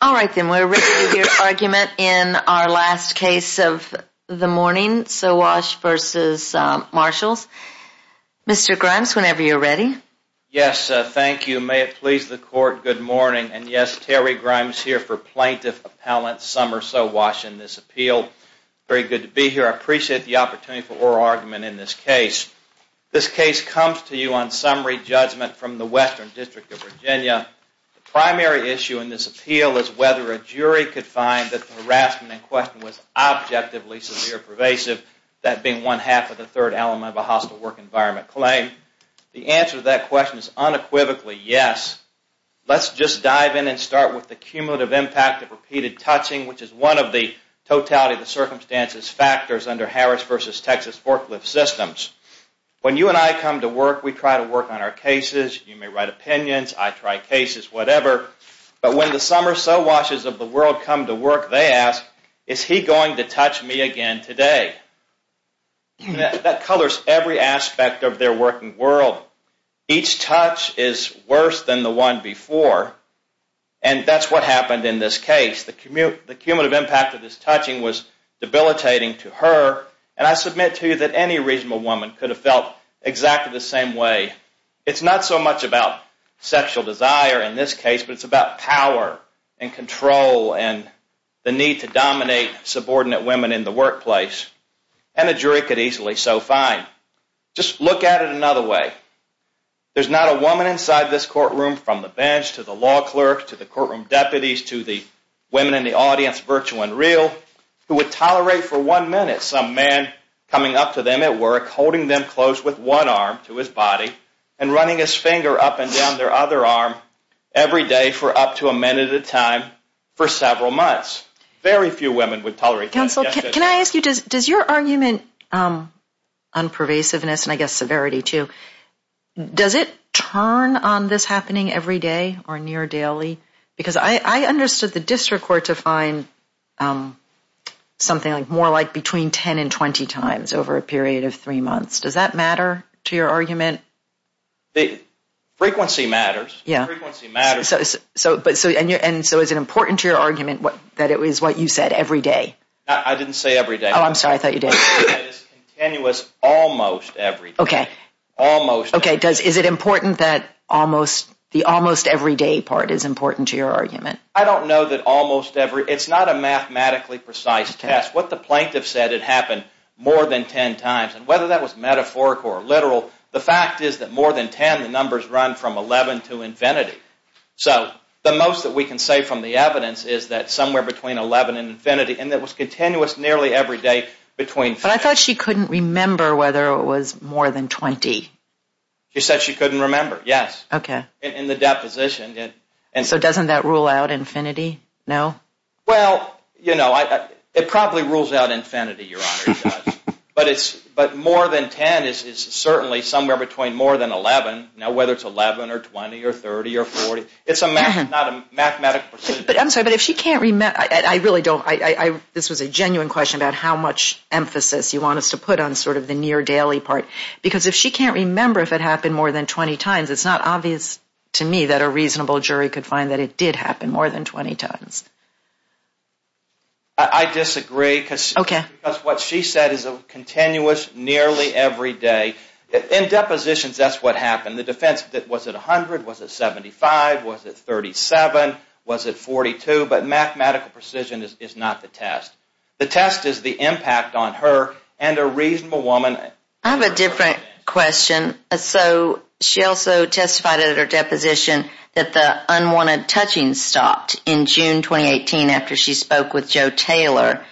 We're ready to hear the argument in our last case of the morning, Sowash v. Marshalls. Mr. Grimes, whenever you're ready. Yes, thank you. May it please the Court, good morning. And yes, Terry Grimes here for Plaintiff Appellant Summer Sowash in this appeal. Very good to be here. I appreciate the opportunity for oral argument in this case. This case comes to you on summary judgment from the Western District of Virginia. The primary issue in this appeal is whether a jury could find that the harassment in question was objectively severe pervasive, that being one-half of the third element of a hostile work environment claim. The answer to that question is unequivocally yes. Let's just dive in and start with the cumulative impact of repeated touching, which is one of the totality of the circumstances factors under Harris v. Texas forklift systems. When you and I come to work, we try to work on our cases. You may write opinions, I try cases, whatever. But when the Summer Sowashes of the world come to work, they ask, is he going to touch me again today? That colors every aspect of their working world. Each touch is worse than the one before, and that's what happened in this case. The cumulative impact of this touching was debilitating to her, and I submit to you that any reasonable woman could have felt exactly the same way. It's not so much about sexual desire in this case, but it's about power and control and the need to dominate subordinate women in the workplace, and a jury could easily so find. Just look at it another way. There's not a woman inside this courtroom from the bench to the law clerk to the courtroom deputies to the women in the audience, virtual and real, who would tolerate for one minute some man coming up to them at work, holding them close with one arm to his body and running his finger up and down their other arm every day for up to a minute at a time for several months. Very few women would tolerate that. Counsel, can I ask you, does your argument on pervasiveness, and I guess severity too, does it turn on this happening every day or near daily? Because I understood the district court to find something more like between 10 and 20 times over a period of three months. Does that matter to your argument? Frequency matters. So is it important to your argument that it was what you said every day? I didn't say every day. Oh, I'm sorry, I thought you did. Continuous almost every day. Okay, is it important that the almost every day part is important to your argument? I don't know that almost every day. It's not a mathematically precise test. What the plaintiff said had happened more than 10 times, and whether that was metaphorical or literal, the fact is that more than 10, the numbers run from 11 to infinity. So the most that we can say from the evidence is that somewhere between 11 and infinity, and it was continuous nearly every day between 15. But I thought she couldn't remember whether it was more than 20. She said she couldn't remember, yes, in the deposition. So doesn't that rule out infinity, no? Well, you know, it probably rules out infinity, Your Honor, but more than 10 is certainly somewhere between more than 11. Now, whether it's 11 or 20 or 30 or 40, it's not a mathematical procedure. I'm sorry, but if she can't remember, I really don't. This was a genuine question about how much emphasis you want us to put on sort of the near daily part, because if she can't remember if it happened more than 20 times, it's not obvious to me that a reasonable jury could find that it did happen more than 20 times. I disagree because what she said is continuous nearly every day. In depositions, that's what happened. The defense, was it 100, was it 75, was it 37, was it 42? But mathematical precision is not the test. The test is the impact on her and a reasonable woman. I have a different question. So she also testified at her deposition that the unwanted touching stopped in June 2018 after she spoke with Joe Taylor,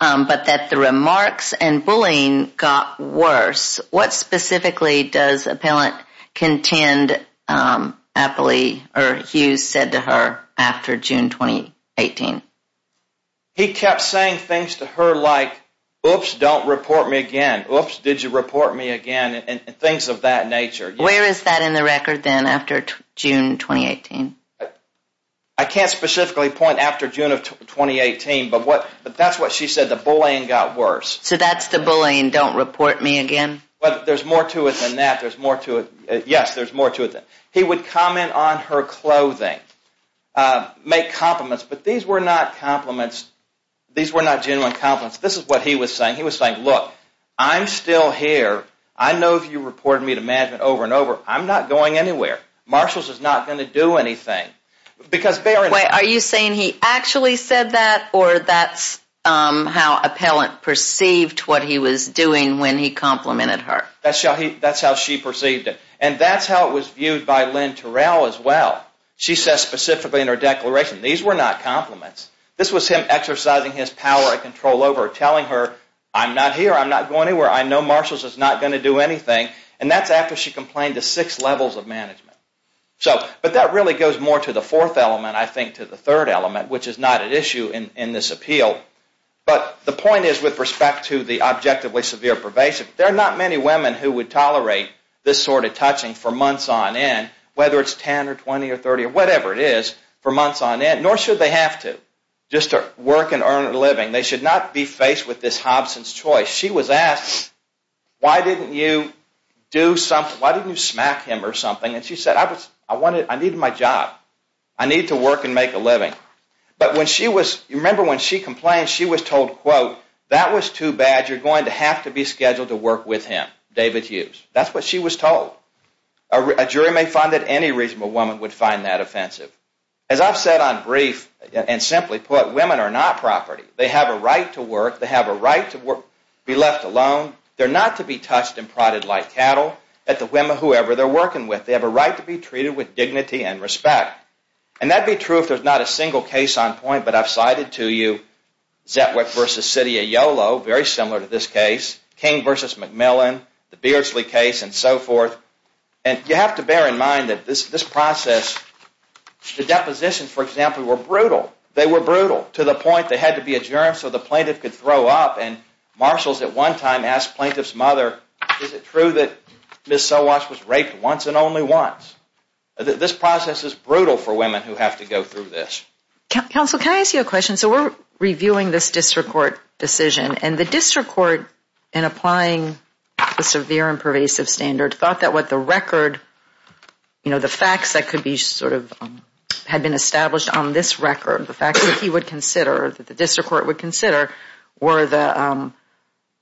but that the remarks and bullying got worse. What specifically does appellant contend Hughes said to her after June 2018? He kept saying things to her like, oops, don't report me again, oops, did you report me again, and things of that nature. Where is that in the record then after June 2018? I can't specifically point after June of 2018, but that's what she said, the bullying got worse. So that's the bullying, don't report me again? There's more to it than that. Yes, there's more to it than that. He would comment on her clothing, make compliments, but these were not compliments. These were not genuine compliments. This is what he was saying. He was saying, look, I'm still here. I know that you reported me to management over and over. I'm not going anywhere. Marshalls is not going to do anything. Are you saying he actually said that or that's how appellant perceived what he was doing when he complimented her? That's how she perceived it. And that's how it was viewed by Lynn Terrell as well. She says specifically in her declaration, these were not compliments. This was him exercising his power and control over her, telling her, I'm not here. I'm not going anywhere. I know Marshalls is not going to do anything. And that's after she complained to six levels of management. But that really goes more to the fourth element, I think, to the third element, which is not at issue in this appeal. But the point is with respect to the objectively severe pervasive, there are not many women who would tolerate this sort of touching for months on end, whether it's 10 or 20 or 30 or whatever it is, for months on end, nor should they have to just to work and earn a living. They should not be faced with this Hobson's choice. She was asked, why didn't you smack him or something? And she said, I need my job. I need to work and make a living. But when she was, you remember when she complained, she was told, quote, that was too bad. You're going to have to be scheduled to work with him, David Hughes. That's what she was told. A jury may find that any reasonable woman would find that offensive. As I've said on brief, and simply put, women are not property. They have a right to work. They have a right to be left alone. They're not to be touched and prodded like cattle at the women, whoever they're working with. They have a right to be treated with dignity and respect. And that'd be true if there's not a single case on point, but I've cited to you Zetwick v. City of Yolo, very similar to this case, King v. McMillan, the Beardsley case, and so forth. And you have to bear in mind that this process, the depositions, for example, were brutal. They were brutal to the point they had to be adjourned so the plaintiff could throw up. And marshals at one time asked plaintiff's mother, is it true that Ms. Sowash was raped once and only once? This process is brutal for women who have to go through this. Counsel, can I ask you a question? So we're reviewing this district court decision, and the district court in applying the severe and pervasive standard thought that what the record, you know, the facts that could be sort of had been established on this record, the facts that he would consider, that the district court would consider, were the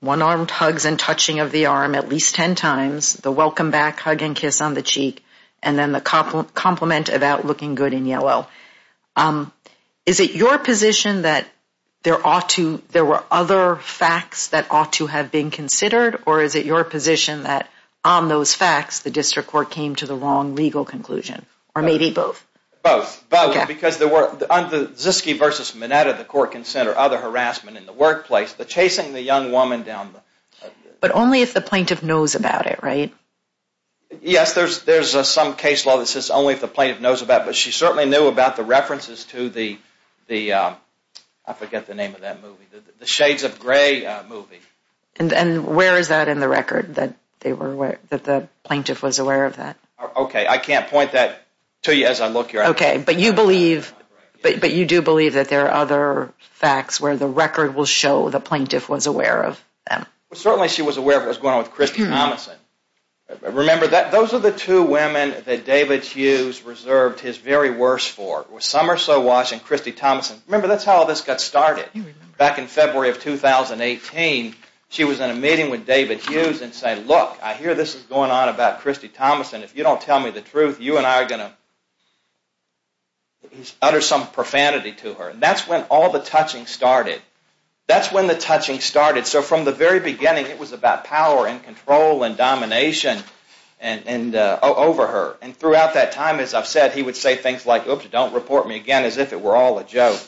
one-armed hugs and touching of the arm at least ten times, the welcome back hug and kiss on the cheek, and then the compliment about looking good in yellow. Is it your position that there ought to, there were other facts that ought to have been considered, or is it your position that on those facts, the district court came to the wrong legal conclusion, or maybe both? Both. Because there were, on the Ziske versus Mineta, the court can center other harassment in the workplace, the chasing the young woman down. But only if the plaintiff knows about it, right? Yes, there's some case law that says only if the plaintiff knows about it, but she certainly knew about the references to the, I forget the name of that movie, the Shades of Grey movie. And where is that in the record, that they were aware, that the plaintiff was aware of that? Okay, I can't point that to you as I look here. Okay, but you believe, but you do believe that there are other facts where the record will show the plaintiff was aware of them? Well, certainly she was aware of what was going on with Christy Thomason. Remember, those are the two women that David Hughes reserved his very worst for. Summer Sowash and Christy Thomason. Remember, that's how all this got started. Back in February of 2018, she was in a meeting with David Hughes and said, look, I hear this is going on about Christy Thomason. If you don't tell me the truth, you and I are going to utter some profanity to her. And that's when all the touching started. That's when the touching started. So from the very beginning, it was about power and control and domination over her. And throughout that time, as I've said, he would say things like, oops, don't report me again, as if it were all a joke.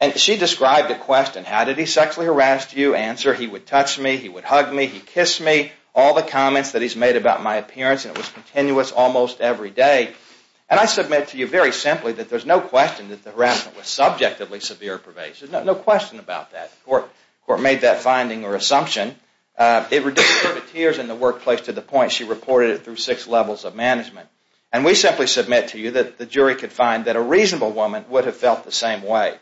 And she described a question, how did he sexually harass you? Answer, he would touch me, he would hug me, he'd kiss me. All the comments that he's made about my appearance, and it was continuous almost every day. And I submit to you very simply that there's no question that the harassment was subjectively severe pervasive. There's no question about that. The court made that finding or assumption. It reduced her to tears in the workplace to the point she reported it through six levels of management. And we simply submit to you that the jury could find that a reasonable woman would have felt the same way.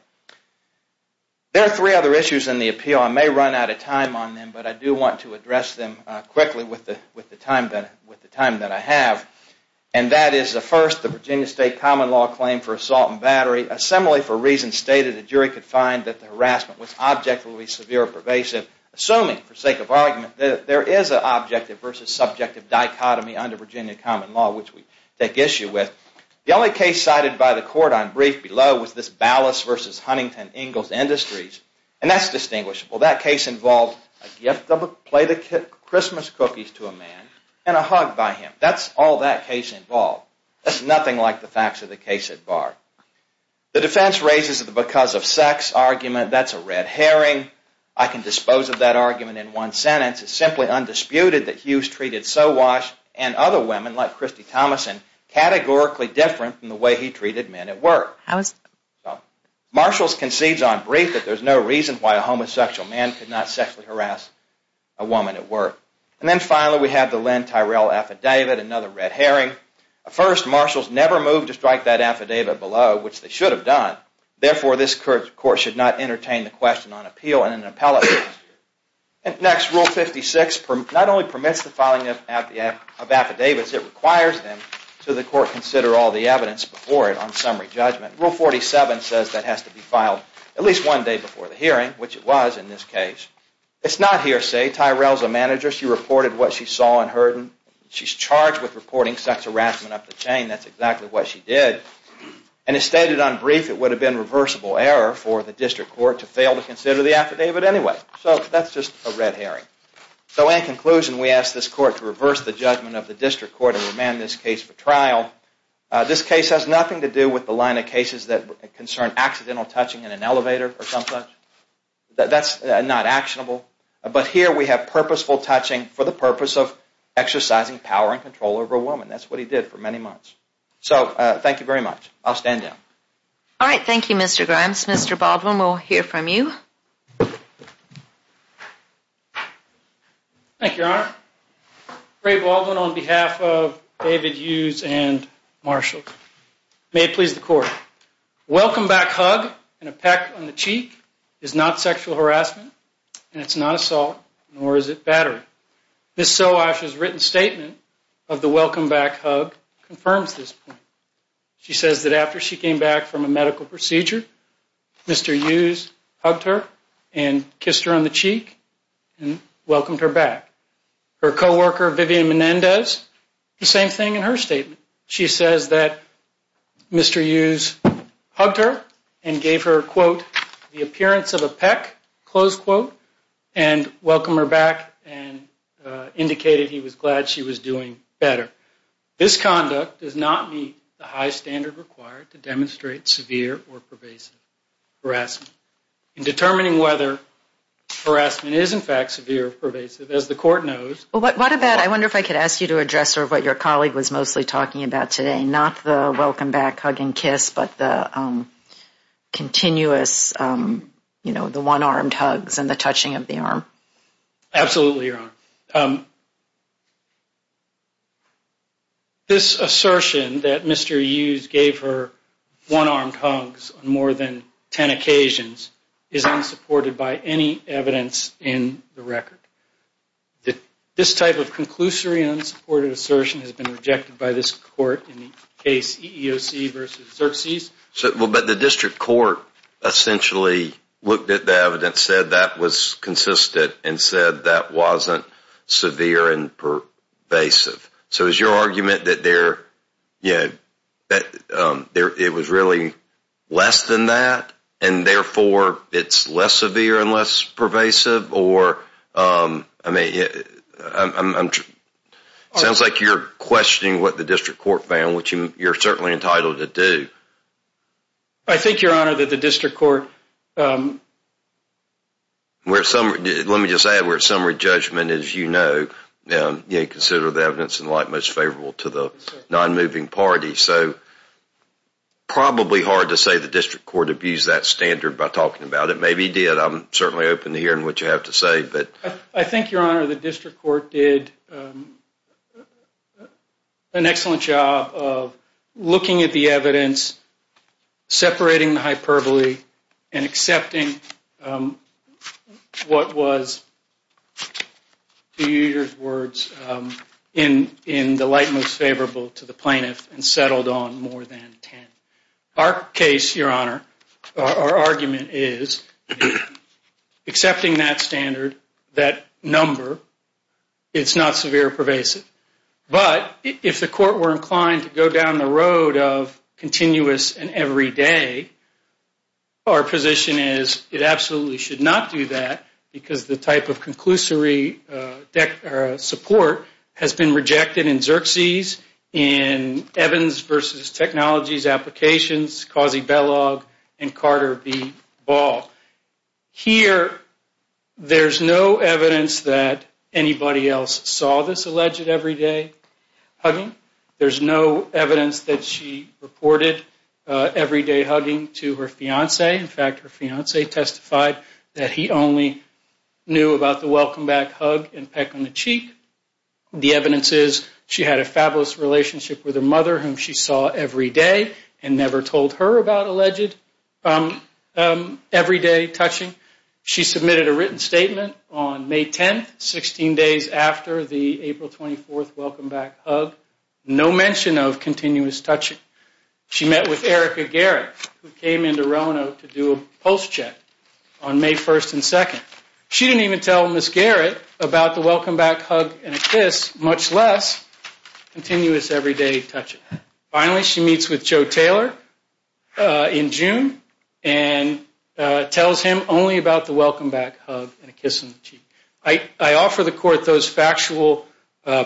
There are three other issues in the appeal. I may run out of time on them, but I do want to address them quickly with the time that I have. And that is the first, the Virginia State common law claim for assault and battery. Assembly for reasons stated, the jury could find that the harassment was objectively severe pervasive, assuming for sake of argument that there is an objective versus subjective dichotomy under Virginia common law, which we take issue with. The only case cited by the court on brief below was this Ballas versus Huntington Ingalls Industries. And that's distinguishable. That case involved a gift of a plate of Christmas cookies to a man and a hug by him. That's all that case involved. That's nothing like the facts of the case at bar. The defense raises the because of sex argument. That's a red herring. I can dispose of that argument in one sentence. It's simply undisputed that Hughes treated Sowash and other women like Christy Thomason categorically different from the way he treated men at work. Marshalls concedes on brief that there's no reason why a homosexual man could not sexually harass a woman at work. And then finally we have the Lynn Tyrell affidavit, another red herring. First, Marshalls never moved to strike that affidavit below, which they should have done. Therefore, this court should not entertain the question on appeal and an appellate. Next, Rule 56 not only permits the filing of affidavits, it requires them to the court consider all the evidence before it on summary judgment. Rule 47 says that has to be filed at least one day before the hearing, which it was in this case. Tyrell's a manager. She reported what she saw and heard. She's charged with reporting sex harassment up the chain. That's exactly what she did. And as stated on brief, it would have been reversible error for the district court to fail to consider the affidavit anyway. So that's just a red herring. So in conclusion, we ask this court to reverse the judgment of the district court and remand this case for trial. This case has nothing to do with the line of cases that concern accidental touching in an elevator or some such. That's not actionable. But here we have purposeful touching for the purpose of exercising power and control over a woman. That's what he did for many months. So thank you very much. I'll stand down. All right, thank you, Mr. Grimes. Mr. Baldwin, we'll hear from you. Thank you, Your Honor. Ray Baldwin on behalf of David Hughes and Marshall. May it please the court. Welcome back hug and a peck on the cheek is not sexual harassment and it's not assault nor is it battery. Ms. Soash's written statement of the welcome back hug confirms this point. She says that after she came back from a medical procedure, Mr. Hughes hugged her and kissed her on the cheek and welcomed her back. Her coworker, Vivian Menendez, the same thing in her statement. She says that Mr. Hughes hugged her and gave her, quote, the appearance of a peck, close quote, and welcomed her back and indicated he was glad she was doing better. This conduct does not meet the high standard required to demonstrate severe or pervasive harassment. In determining whether harassment is, in fact, severe or pervasive, as the court knows. What about, I wonder if I could ask you to address sort of what your colleague was mostly talking about today. Not the welcome back hug and kiss, but the continuous, you know, the one-armed hugs and the touching of the arm. Absolutely, Your Honor. This assertion that Mr. Hughes gave her one-armed hugs on more than ten occasions is unsupported by any evidence in the record. This type of conclusory unsupported assertion has been rejected by this court in the case EEOC versus Xerces. But the district court essentially looked at the evidence, said that was consistent, and said that wasn't severe and pervasive. So is your argument that it was really less than that, and therefore it's less severe and less pervasive? I mean, it sounds like you're questioning what the district court found, which you're certainly entitled to do. I think, Your Honor, that the district court. Let me just add, we're at summary judgment, as you know. You consider the evidence in light most favorable to the non-moving party. So probably hard to say the district court abused that standard by talking about it. Maybe it did. But I'm certainly open to hearing what you have to say. But I think, Your Honor, the district court did an excellent job of looking at the evidence, separating the hyperbole, and accepting what was, to use your words, in the light most favorable to the plaintiff and settled on more than ten. Our case, Your Honor, our argument is, accepting that standard, that number, it's not severe or pervasive. But if the court were inclined to go down the road of continuous and every day, our position is it absolutely should not do that, because the type of conclusory support has been rejected in Xerxes, in Evans v. Technologies Applications, Causi-Bellog, and Carter v. Ball. Here, there's no evidence that anybody else saw this alleged every day hugging. There's no evidence that she reported every day hugging to her fiancé. In fact, her fiancé testified that he only knew about the welcome back hug and peck on the cheek. The evidence is she had a fabulous relationship with her mother, whom she saw every day and never told her about alleged every day touching. She submitted a written statement on May 10th, 16 days after the April 24th welcome back hug, no mention of continuous touching. She met with Erica Garrett, who came into Roanoke to do a pulse check on May 1st and 2nd. She didn't even tell Miss Garrett about the welcome back hug and a kiss, much less continuous every day touching. Finally, she meets with Joe Taylor in June and tells him only about the welcome back hug and a kiss on the cheek. I offer the court those factual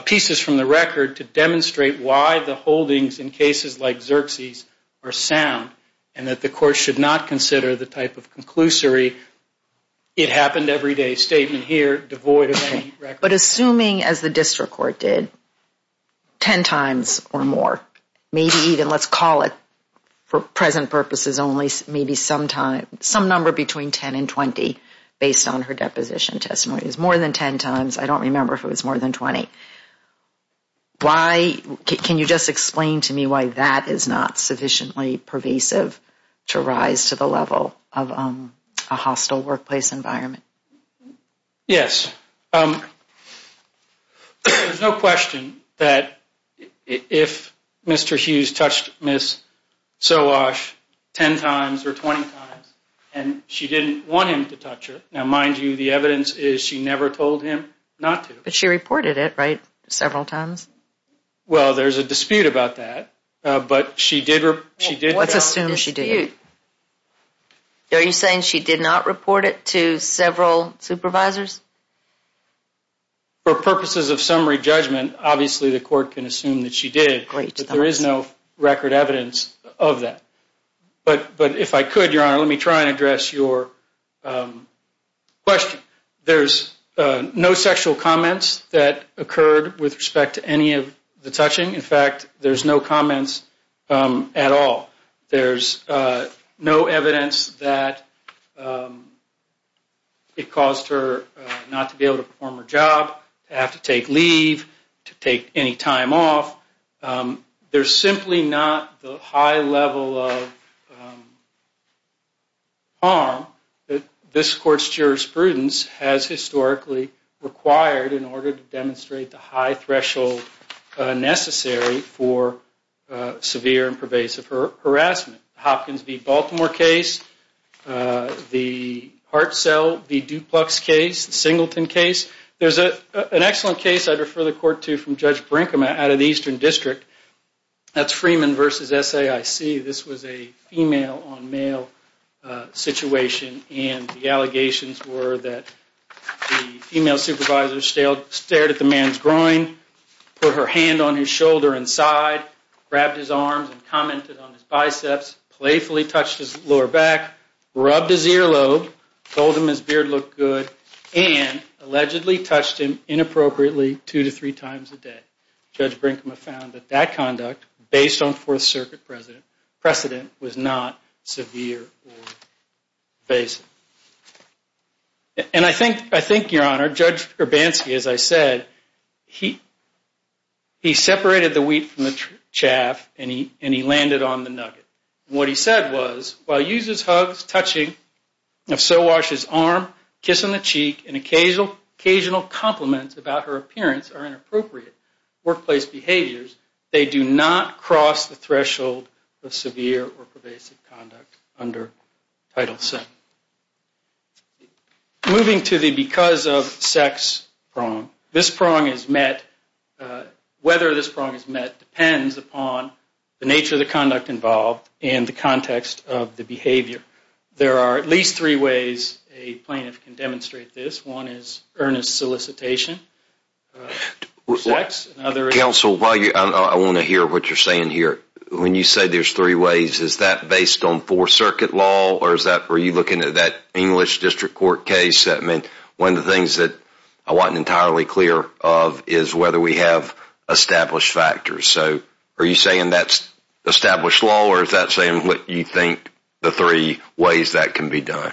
pieces from the record to demonstrate why the holdings in cases like Xerxes are sound and that the court should not consider the type of conclusory it happened every day statement here devoid of any record. But assuming, as the district court did, 10 times or more, maybe even let's call it for present purposes only, maybe some number between 10 and 20 based on her deposition testimony. It was more than 10 times. I don't remember if it was more than 20. Can you just explain to me why that is not sufficiently pervasive to rise to the level of a hostile workplace environment? Yes. There's no question that if Mr. Hughes touched Miss Solosh 10 times or 20 times and she didn't want him to touch her, now, mind you, the evidence is she never told him not to. But she reported it, right, several times? Well, there's a dispute about that. What's a dispute? Are you saying she did not report it to several supervisors? For purposes of summary judgment, obviously the court can assume that she did, but there is no record evidence of that. But if I could, Your Honor, let me try and address your question. There's no sexual comments that occurred with respect to any of the touching. In fact, there's no comments at all. There's no evidence that it caused her not to be able to perform her job, to have to take leave, to take any time off. There's simply not the high level of harm that this court's jurisprudence has historically required in order to demonstrate the high threshold necessary for severe and pervasive harassment. The Hopkins v. Baltimore case, the Hartzell v. Duplux case, the Singleton case. There's an excellent case I'd refer the court to from Judge Brinkman out of the Eastern District. That's Freeman v. SAIC. This was a female-on-male situation, and the allegations were that the female supervisor stared at the man's groin, put her hand on his shoulder and side, grabbed his arms and commented on his biceps, playfully touched his lower back, rubbed his earlobe, told him his beard looked good, and allegedly touched him inappropriately two to three times a day. Judge Brinkman found that that conduct, based on Fourth Circuit precedent, was not severe or pervasive. And I think, Your Honor, Judge Urbanski, as I said, he separated the wheat from the chaff and he landed on the nugget. What he said was, while he uses hugs, touching, if so, washes his arm, kiss on the cheek, and occasional compliments about her appearance are inappropriate workplace behaviors, they do not cross the threshold of severe or pervasive conduct under Title VII. Moving to the because of sex prong, whether this prong is met depends upon the nature of the conduct involved and the context of the behavior. There are at least three ways a plaintiff can demonstrate this. One is earnest solicitation. Counsel, I want to hear what you're saying here. When you say there's three ways, is that based on Fourth Circuit law or are you looking at that English District Court case? One of the things that I wasn't entirely clear of is whether we have established factors. So are you saying that's established law or is that saying what you think the three ways that can be done?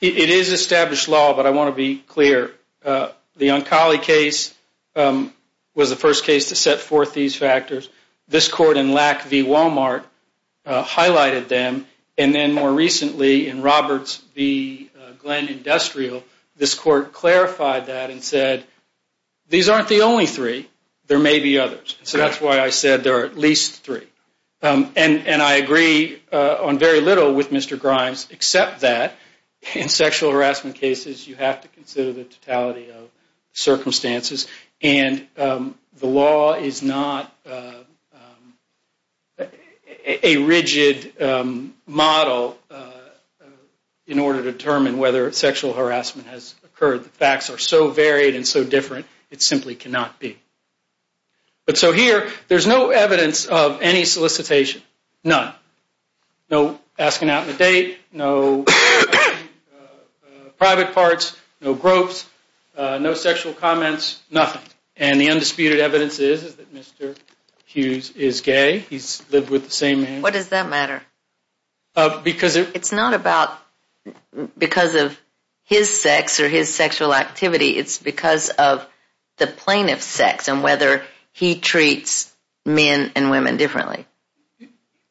It is established law, but I want to be clear. The Oncoli case was the first case to set forth these factors. This court in Lack v. Walmart highlighted them. And then more recently in Roberts v. Glenn Industrial, this court clarified that and said these aren't the only three, there may be others. So that's why I said there are at least three. And I agree on very little with Mr. Grimes except that in sexual harassment cases you have to consider the totality of circumstances. And the law is not a rigid model in order to determine whether sexual harassment has occurred. The facts are so varied and so different, it simply cannot be. But so here, there's no evidence of any solicitation, none. No asking out on a date, no private parts, no gropes, no sexual comments, nothing. And the undisputed evidence is that Mr. Hughes is gay. He's lived with the same man. What does that matter? It's not about because of his sex or his sexual activity. It's because of the plaintiff's sex and whether he treats men and women differently.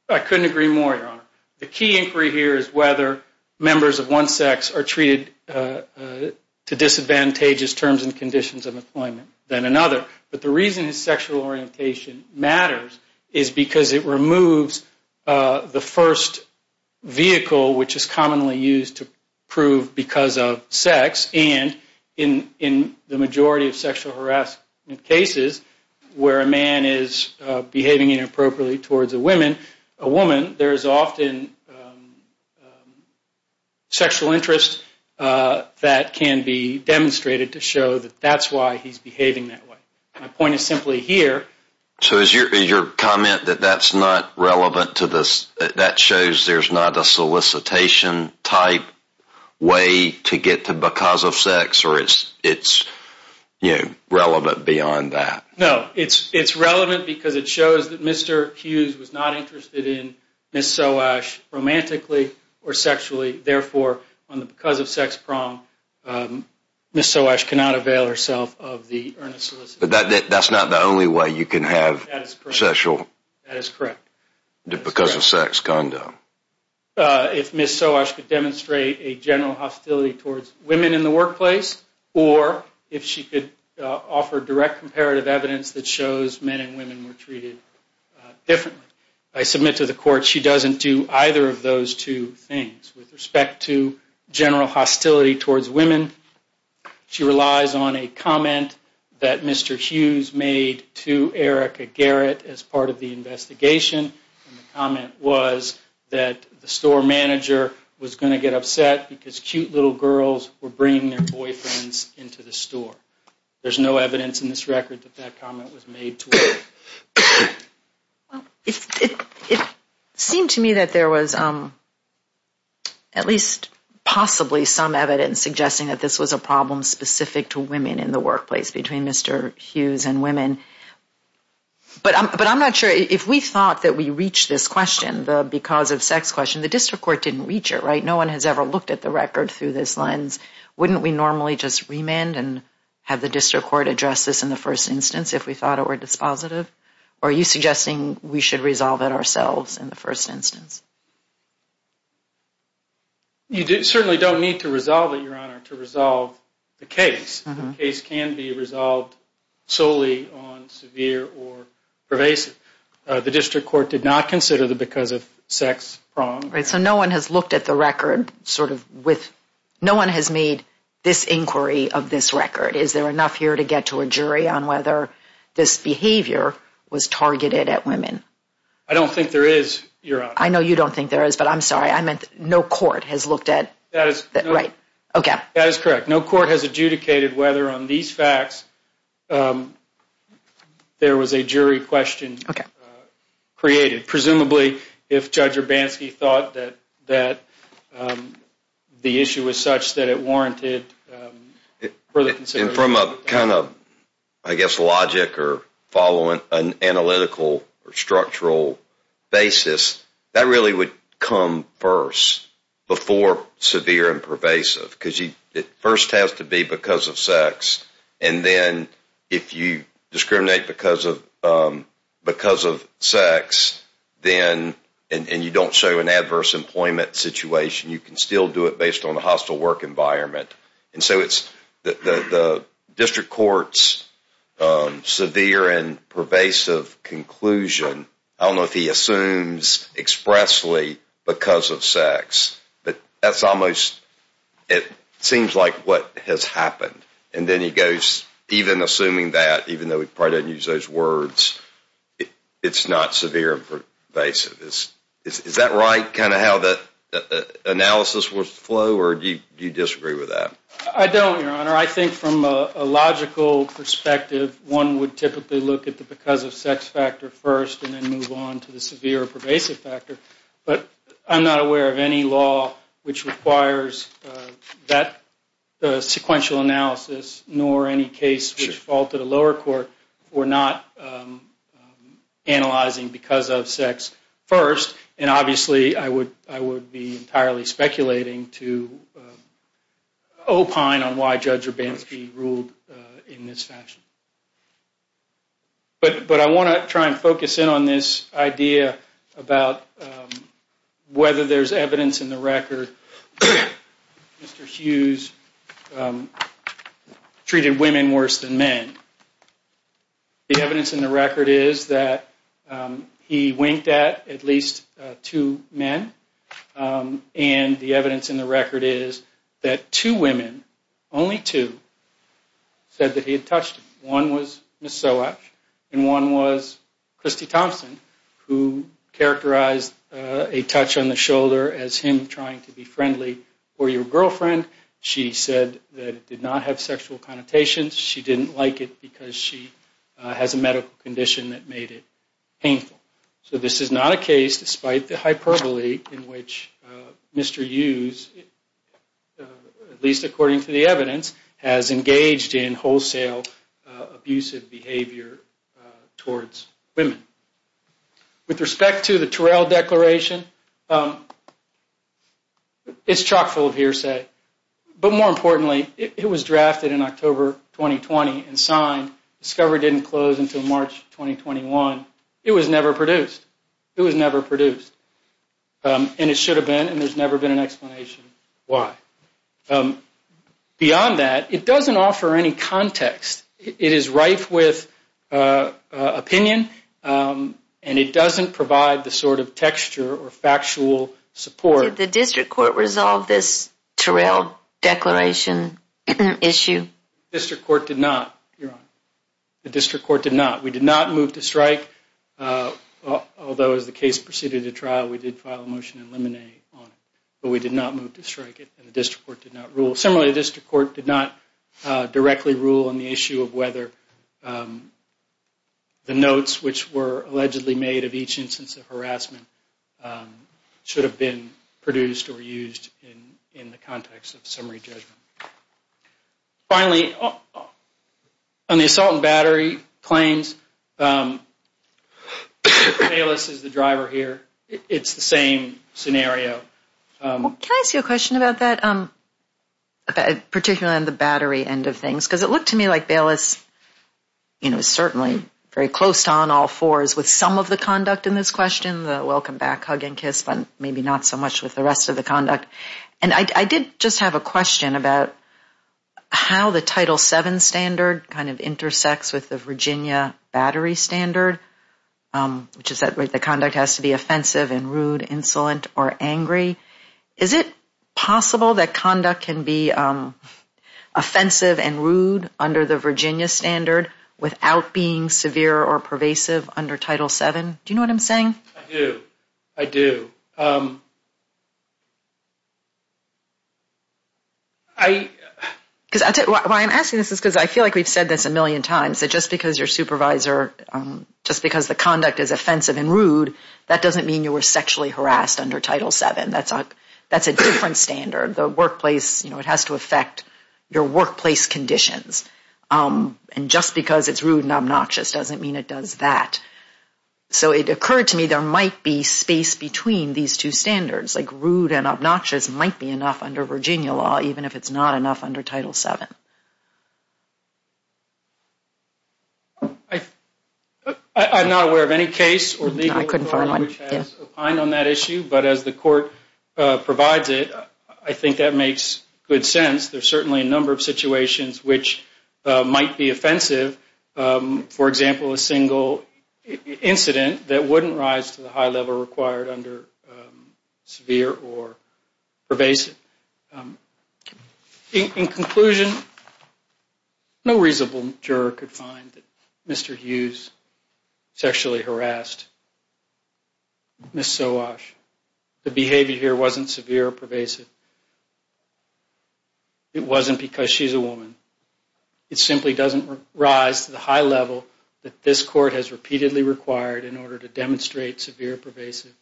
I couldn't agree more, Your Honor. The key inquiry here is whether members of one sex are treated to disadvantageous terms and conditions of employment than another. But the reason his sexual orientation matters is because it removes the first vehicle which is commonly used to prove because of sex. And in the majority of sexual harassment cases where a man is behaving inappropriately towards a woman, there is often sexual interest that can be demonstrated to show that that's why he's behaving that way. My point is simply here. So is your comment that that's not relevant to this, that shows there's not a solicitation-type way to get to because of sex or it's relevant beyond that? No, it's relevant because it shows that Mr. Hughes was not interested in Ms. Soash romantically or sexually. Therefore, on the because of sex prong, Ms. Soash cannot avail herself of the earnest solicitation. But that's not the only way you can have sexual- That is correct. Because of sex condom. If Ms. Soash could demonstrate a general hostility towards women in the workplace or if she could offer direct comparative evidence that shows men and women were treated differently, I submit to the court she doesn't do either of those two things. With respect to general hostility towards women, she relies on a comment that Mr. Hughes made to Erica Garrett as part of the investigation. The comment was that the store manager was going to get upset because cute little girls were bringing their boyfriends into the store. There's no evidence in this record that that comment was made to Erica. It seemed to me that there was at least possibly some evidence suggesting that this was a problem specific to women in the workplace between Mr. Hughes and women. But I'm not sure if we thought that we reached this question, the because of sex question, the district court didn't reach it, right? No one has ever looked at the record through this lens. Wouldn't we normally just remand and have the district court address this in the first instance if we thought it were dispositive? Or are you suggesting we should resolve it ourselves in the first instance? You certainly don't need to resolve it, Your Honor, to resolve the case. The case can be resolved solely on severe or pervasive. The district court did not consider the because of sex prong. Right, so no one has looked at the record sort of with, no one has made this inquiry of this record. Is there enough here to get to a jury on whether this behavior was targeted at women? I don't think there is, Your Honor. I know you don't think there is, but I'm sorry, I meant no court has looked at, right, okay. That is correct. No court has adjudicated whether on these facts there was a jury question created, presumably if Judge Urbanski thought that the issue was such that it warranted further consideration. And from a kind of, I guess, logic or following an analytical or structural basis, that really would come first before severe and pervasive. Because it first has to be because of sex. And then if you discriminate because of sex, and you don't show an adverse employment situation, you can still do it based on a hostile work environment. And so it's the district court's severe and pervasive conclusion, I don't know if he assumes expressly because of sex, but that's almost, it seems like what has happened. And then he goes, even assuming that, even though he probably doesn't use those words, it's not severe and pervasive. Is that right, kind of how that analysis would flow, or do you disagree with that? I don't, Your Honor. I think from a logical perspective, one would typically look at the because of sex factor first and then move on to the severe or pervasive factor. But I'm not aware of any law which requires that sequential analysis, nor any case which faulted a lower court for not analyzing because of sex first. And obviously I would be entirely speculating to opine on why Judge Urbanski ruled in this fashion. But I want to try and focus in on this idea about whether there's evidence in the record, that Mr. Hughes treated women worse than men. The evidence in the record is that he winked at at least two men. And the evidence in the record is that two women, only two, said that he had touched them. One was Ms. Soak and one was Christy Thompson, who characterized a touch on the shoulder as him trying to be friendly for your girlfriend. She said that it did not have sexual connotations. She didn't like it because she has a medical condition that made it painful. So this is not a case, despite the hyperbole in which Mr. Hughes, at least according to the evidence, has engaged in wholesale abusive behavior towards women. With respect to the Turrell Declaration, it's chock full of hearsay. But more importantly, it was drafted in October 2020 and signed. Discovery didn't close until March 2021. It was never produced. It was never produced. And it should have been, and there's never been an explanation why. Beyond that, it doesn't offer any context. It is rife with opinion and it doesn't provide the sort of texture or factual support. Did the district court resolve this Turrell Declaration issue? The district court did not, Your Honor. The district court did not. We did not move to strike, although as the case proceeded to trial, we did file a motion to eliminate on it. But we did not move to strike it and the district court did not rule. Similarly, the district court did not directly rule on the issue of whether the notes, which were allegedly made of each instance of harassment, should have been produced or used in the context of summary judgment. Finally, on the assault and battery claims, Bayless is the driver here. It's the same scenario. Can I ask you a question about that, particularly on the battery end of things? Because it looked to me like Bayless, you know, was certainly very close on all fours with some of the conduct in this question, the welcome back, hug and kiss, but maybe not so much with the rest of the conduct. And I did just have a question about how the Title VII standard kind of intersects with the Virginia battery standard, which is that the conduct has to be offensive and rude, insolent or angry. Is it possible that conduct can be offensive and rude under the Virginia standard without being severe or pervasive under Title VII? Do you know what I'm saying? I do. I do. Why I'm asking this is because I feel like we've said this a million times, that just because your supervisor, just because the conduct is offensive and rude, that doesn't mean you were sexually harassed under Title VII. That's a different standard. The workplace, you know, it has to affect your workplace conditions. And just because it's rude and obnoxious doesn't mean it does that. So it occurred to me there might be space between these two standards, like rude and obnoxious might be enough under Virginia law, even if it's not enough under Title VII. I'm not aware of any case or legal authority which has opined on that issue, but as the court provides it, I think that makes good sense. There are certainly a number of situations which might be offensive. For example, a single incident that wouldn't rise to the high level required under severe or pervasive. In conclusion, no reasonable juror could find that Mr. Hughes sexually harassed Ms. Sawash. The behavior here wasn't severe or pervasive. It wasn't because she's a woman. It simply doesn't rise to the high level that this court has repeatedly required in order to demonstrate severe or pervasive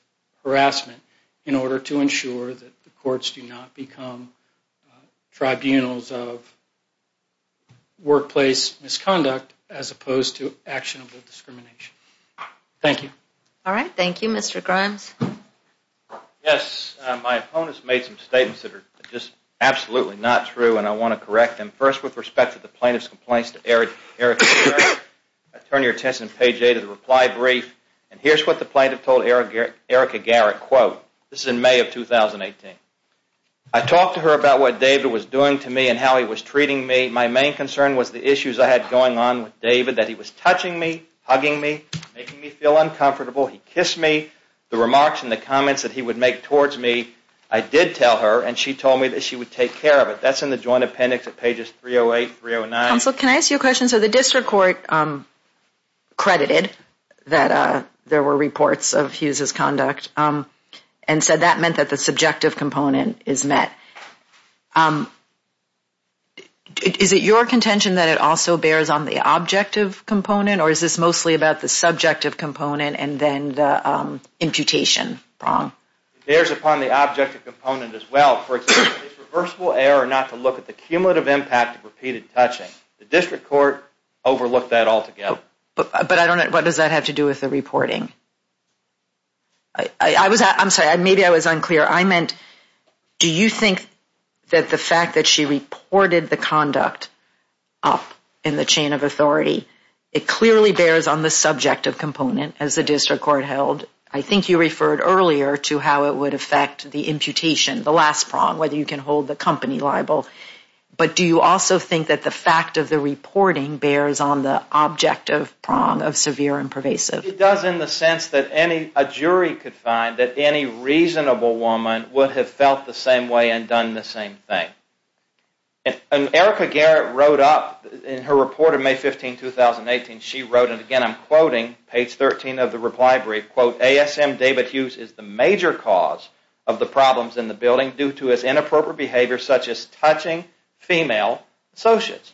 harassment, in order to ensure that the courts do not become tribunals of workplace misconduct as opposed to actionable discrimination. Thank you. All right, thank you. Mr. Grimes? Yes, my opponents made some statements that are just absolutely not true, and I want to correct them. First, with respect to the plaintiff's complaints to Erica Garrett, turn your attention to page 8 of the reply brief, and here's what the plaintiff told Erica Garrett, quote, this is in May of 2018. I talked to her about what David was doing to me and how he was treating me. My main concern was the issues I had going on with David, that he was touching me, hugging me, making me feel uncomfortable. He kissed me. The remarks and the comments that he would make towards me, I did tell her, and she told me that she would take care of it. That's in the joint appendix at pages 308 and 309. Counsel, can I ask you a question? So the district court credited that there were reports of Hughes' conduct and said that meant that the subjective component is met. Is it your contention that it also bears on the objective component, or is this mostly about the subjective component and then the imputation? It bears upon the objective component as well. For example, is reversible error not to look at the cumulative impact of repeated touching? The district court overlooked that altogether. But I don't know, what does that have to do with the reporting? I'm sorry, maybe I was unclear. I meant, do you think that the fact that she reported the conduct in the chain of authority, it clearly bears on the subjective component, as the district court held. I think you referred earlier to how it would affect the imputation, the last prong, whether you can hold the company liable. But do you also think that the fact of the reporting bears on the objective prong of severe and pervasive? It does in the sense that a jury could find that any reasonable woman would have felt the same way and done the same thing. And Erica Garrett wrote up in her report in May 15, 2018, she wrote, and again I'm quoting, page 13 of the reply brief, quote, ASM David Hughes is the major cause of the problems in the building due to his inappropriate behavior such as touching female associates.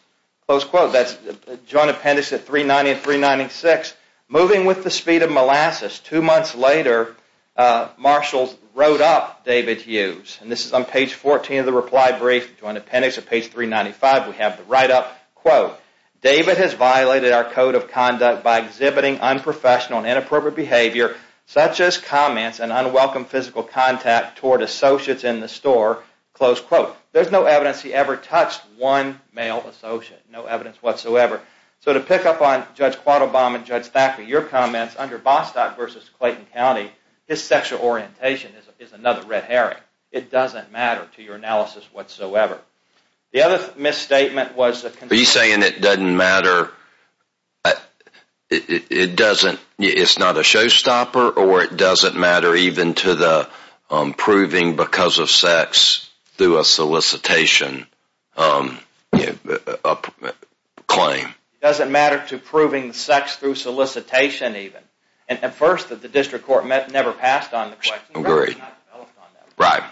Close quote. That's joint appendix at 390 and 396. Moving with the speed of molasses, two months later, Marshalls wrote up David Hughes. And this is on page 14 of the reply brief, joint appendix at page 395. We have the write-up, quote, David has violated our code of conduct by exhibiting unprofessional and inappropriate behavior such as comments and unwelcome physical contact toward associates in the store. Close quote. There's no evidence he ever touched one male associate. No evidence whatsoever. So to pick up on Judge Quattlebaum and Judge Thacker, your comments under Vostok versus Clayton County, his sexual orientation is another red herring. It doesn't matter to your analysis whatsoever. The other misstatement was that Are you saying it doesn't matter, it doesn't, it's not a showstopper or it doesn't matter even to the proving because of sex through a solicitation claim? It doesn't matter to proving sex through solicitation even. At first the district court never passed on the question. Agreed. Right.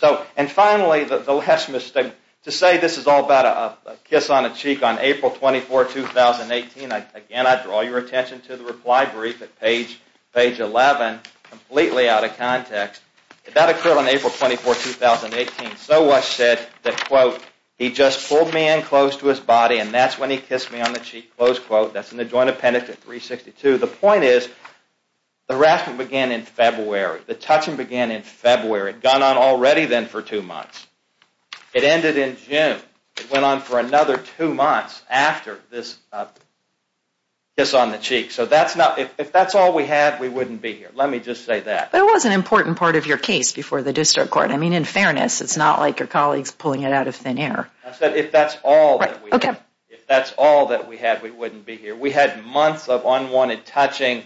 So and finally the last misstatement. To say this is all about a kiss on the cheek on April 24, 2018, again I draw your attention to the reply brief at page 11, completely out of context. That occurred on April 24, 2018. So was said that, quote, he just pulled me in close to his body and that's when he kissed me on the cheek. Close quote. That's in the joint appendix at 362. The point is the harassment began in February. The touching began in February. It had gone on already then for two months. It ended in June. It went on for another two months after this kiss on the cheek. So that's not, if that's all we had, we wouldn't be here. Let me just say that. But it was an important part of your case before the district court. I mean, in fairness, it's not like your colleagues pulling it out of thin air. I said if that's all that we had. If that's all that we had, we wouldn't be here. We had months of unwanted touching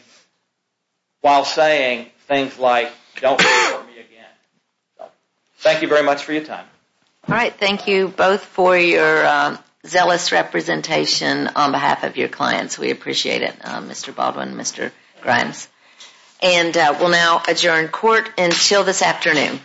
while saying things like, don't do it for me again. Thank you very much for your time. All right. Thank you both for your zealous representation on behalf of your clients. We appreciate it, Mr. Baldwin and Mr. Grimes. And we'll now adjourn court until this afternoon.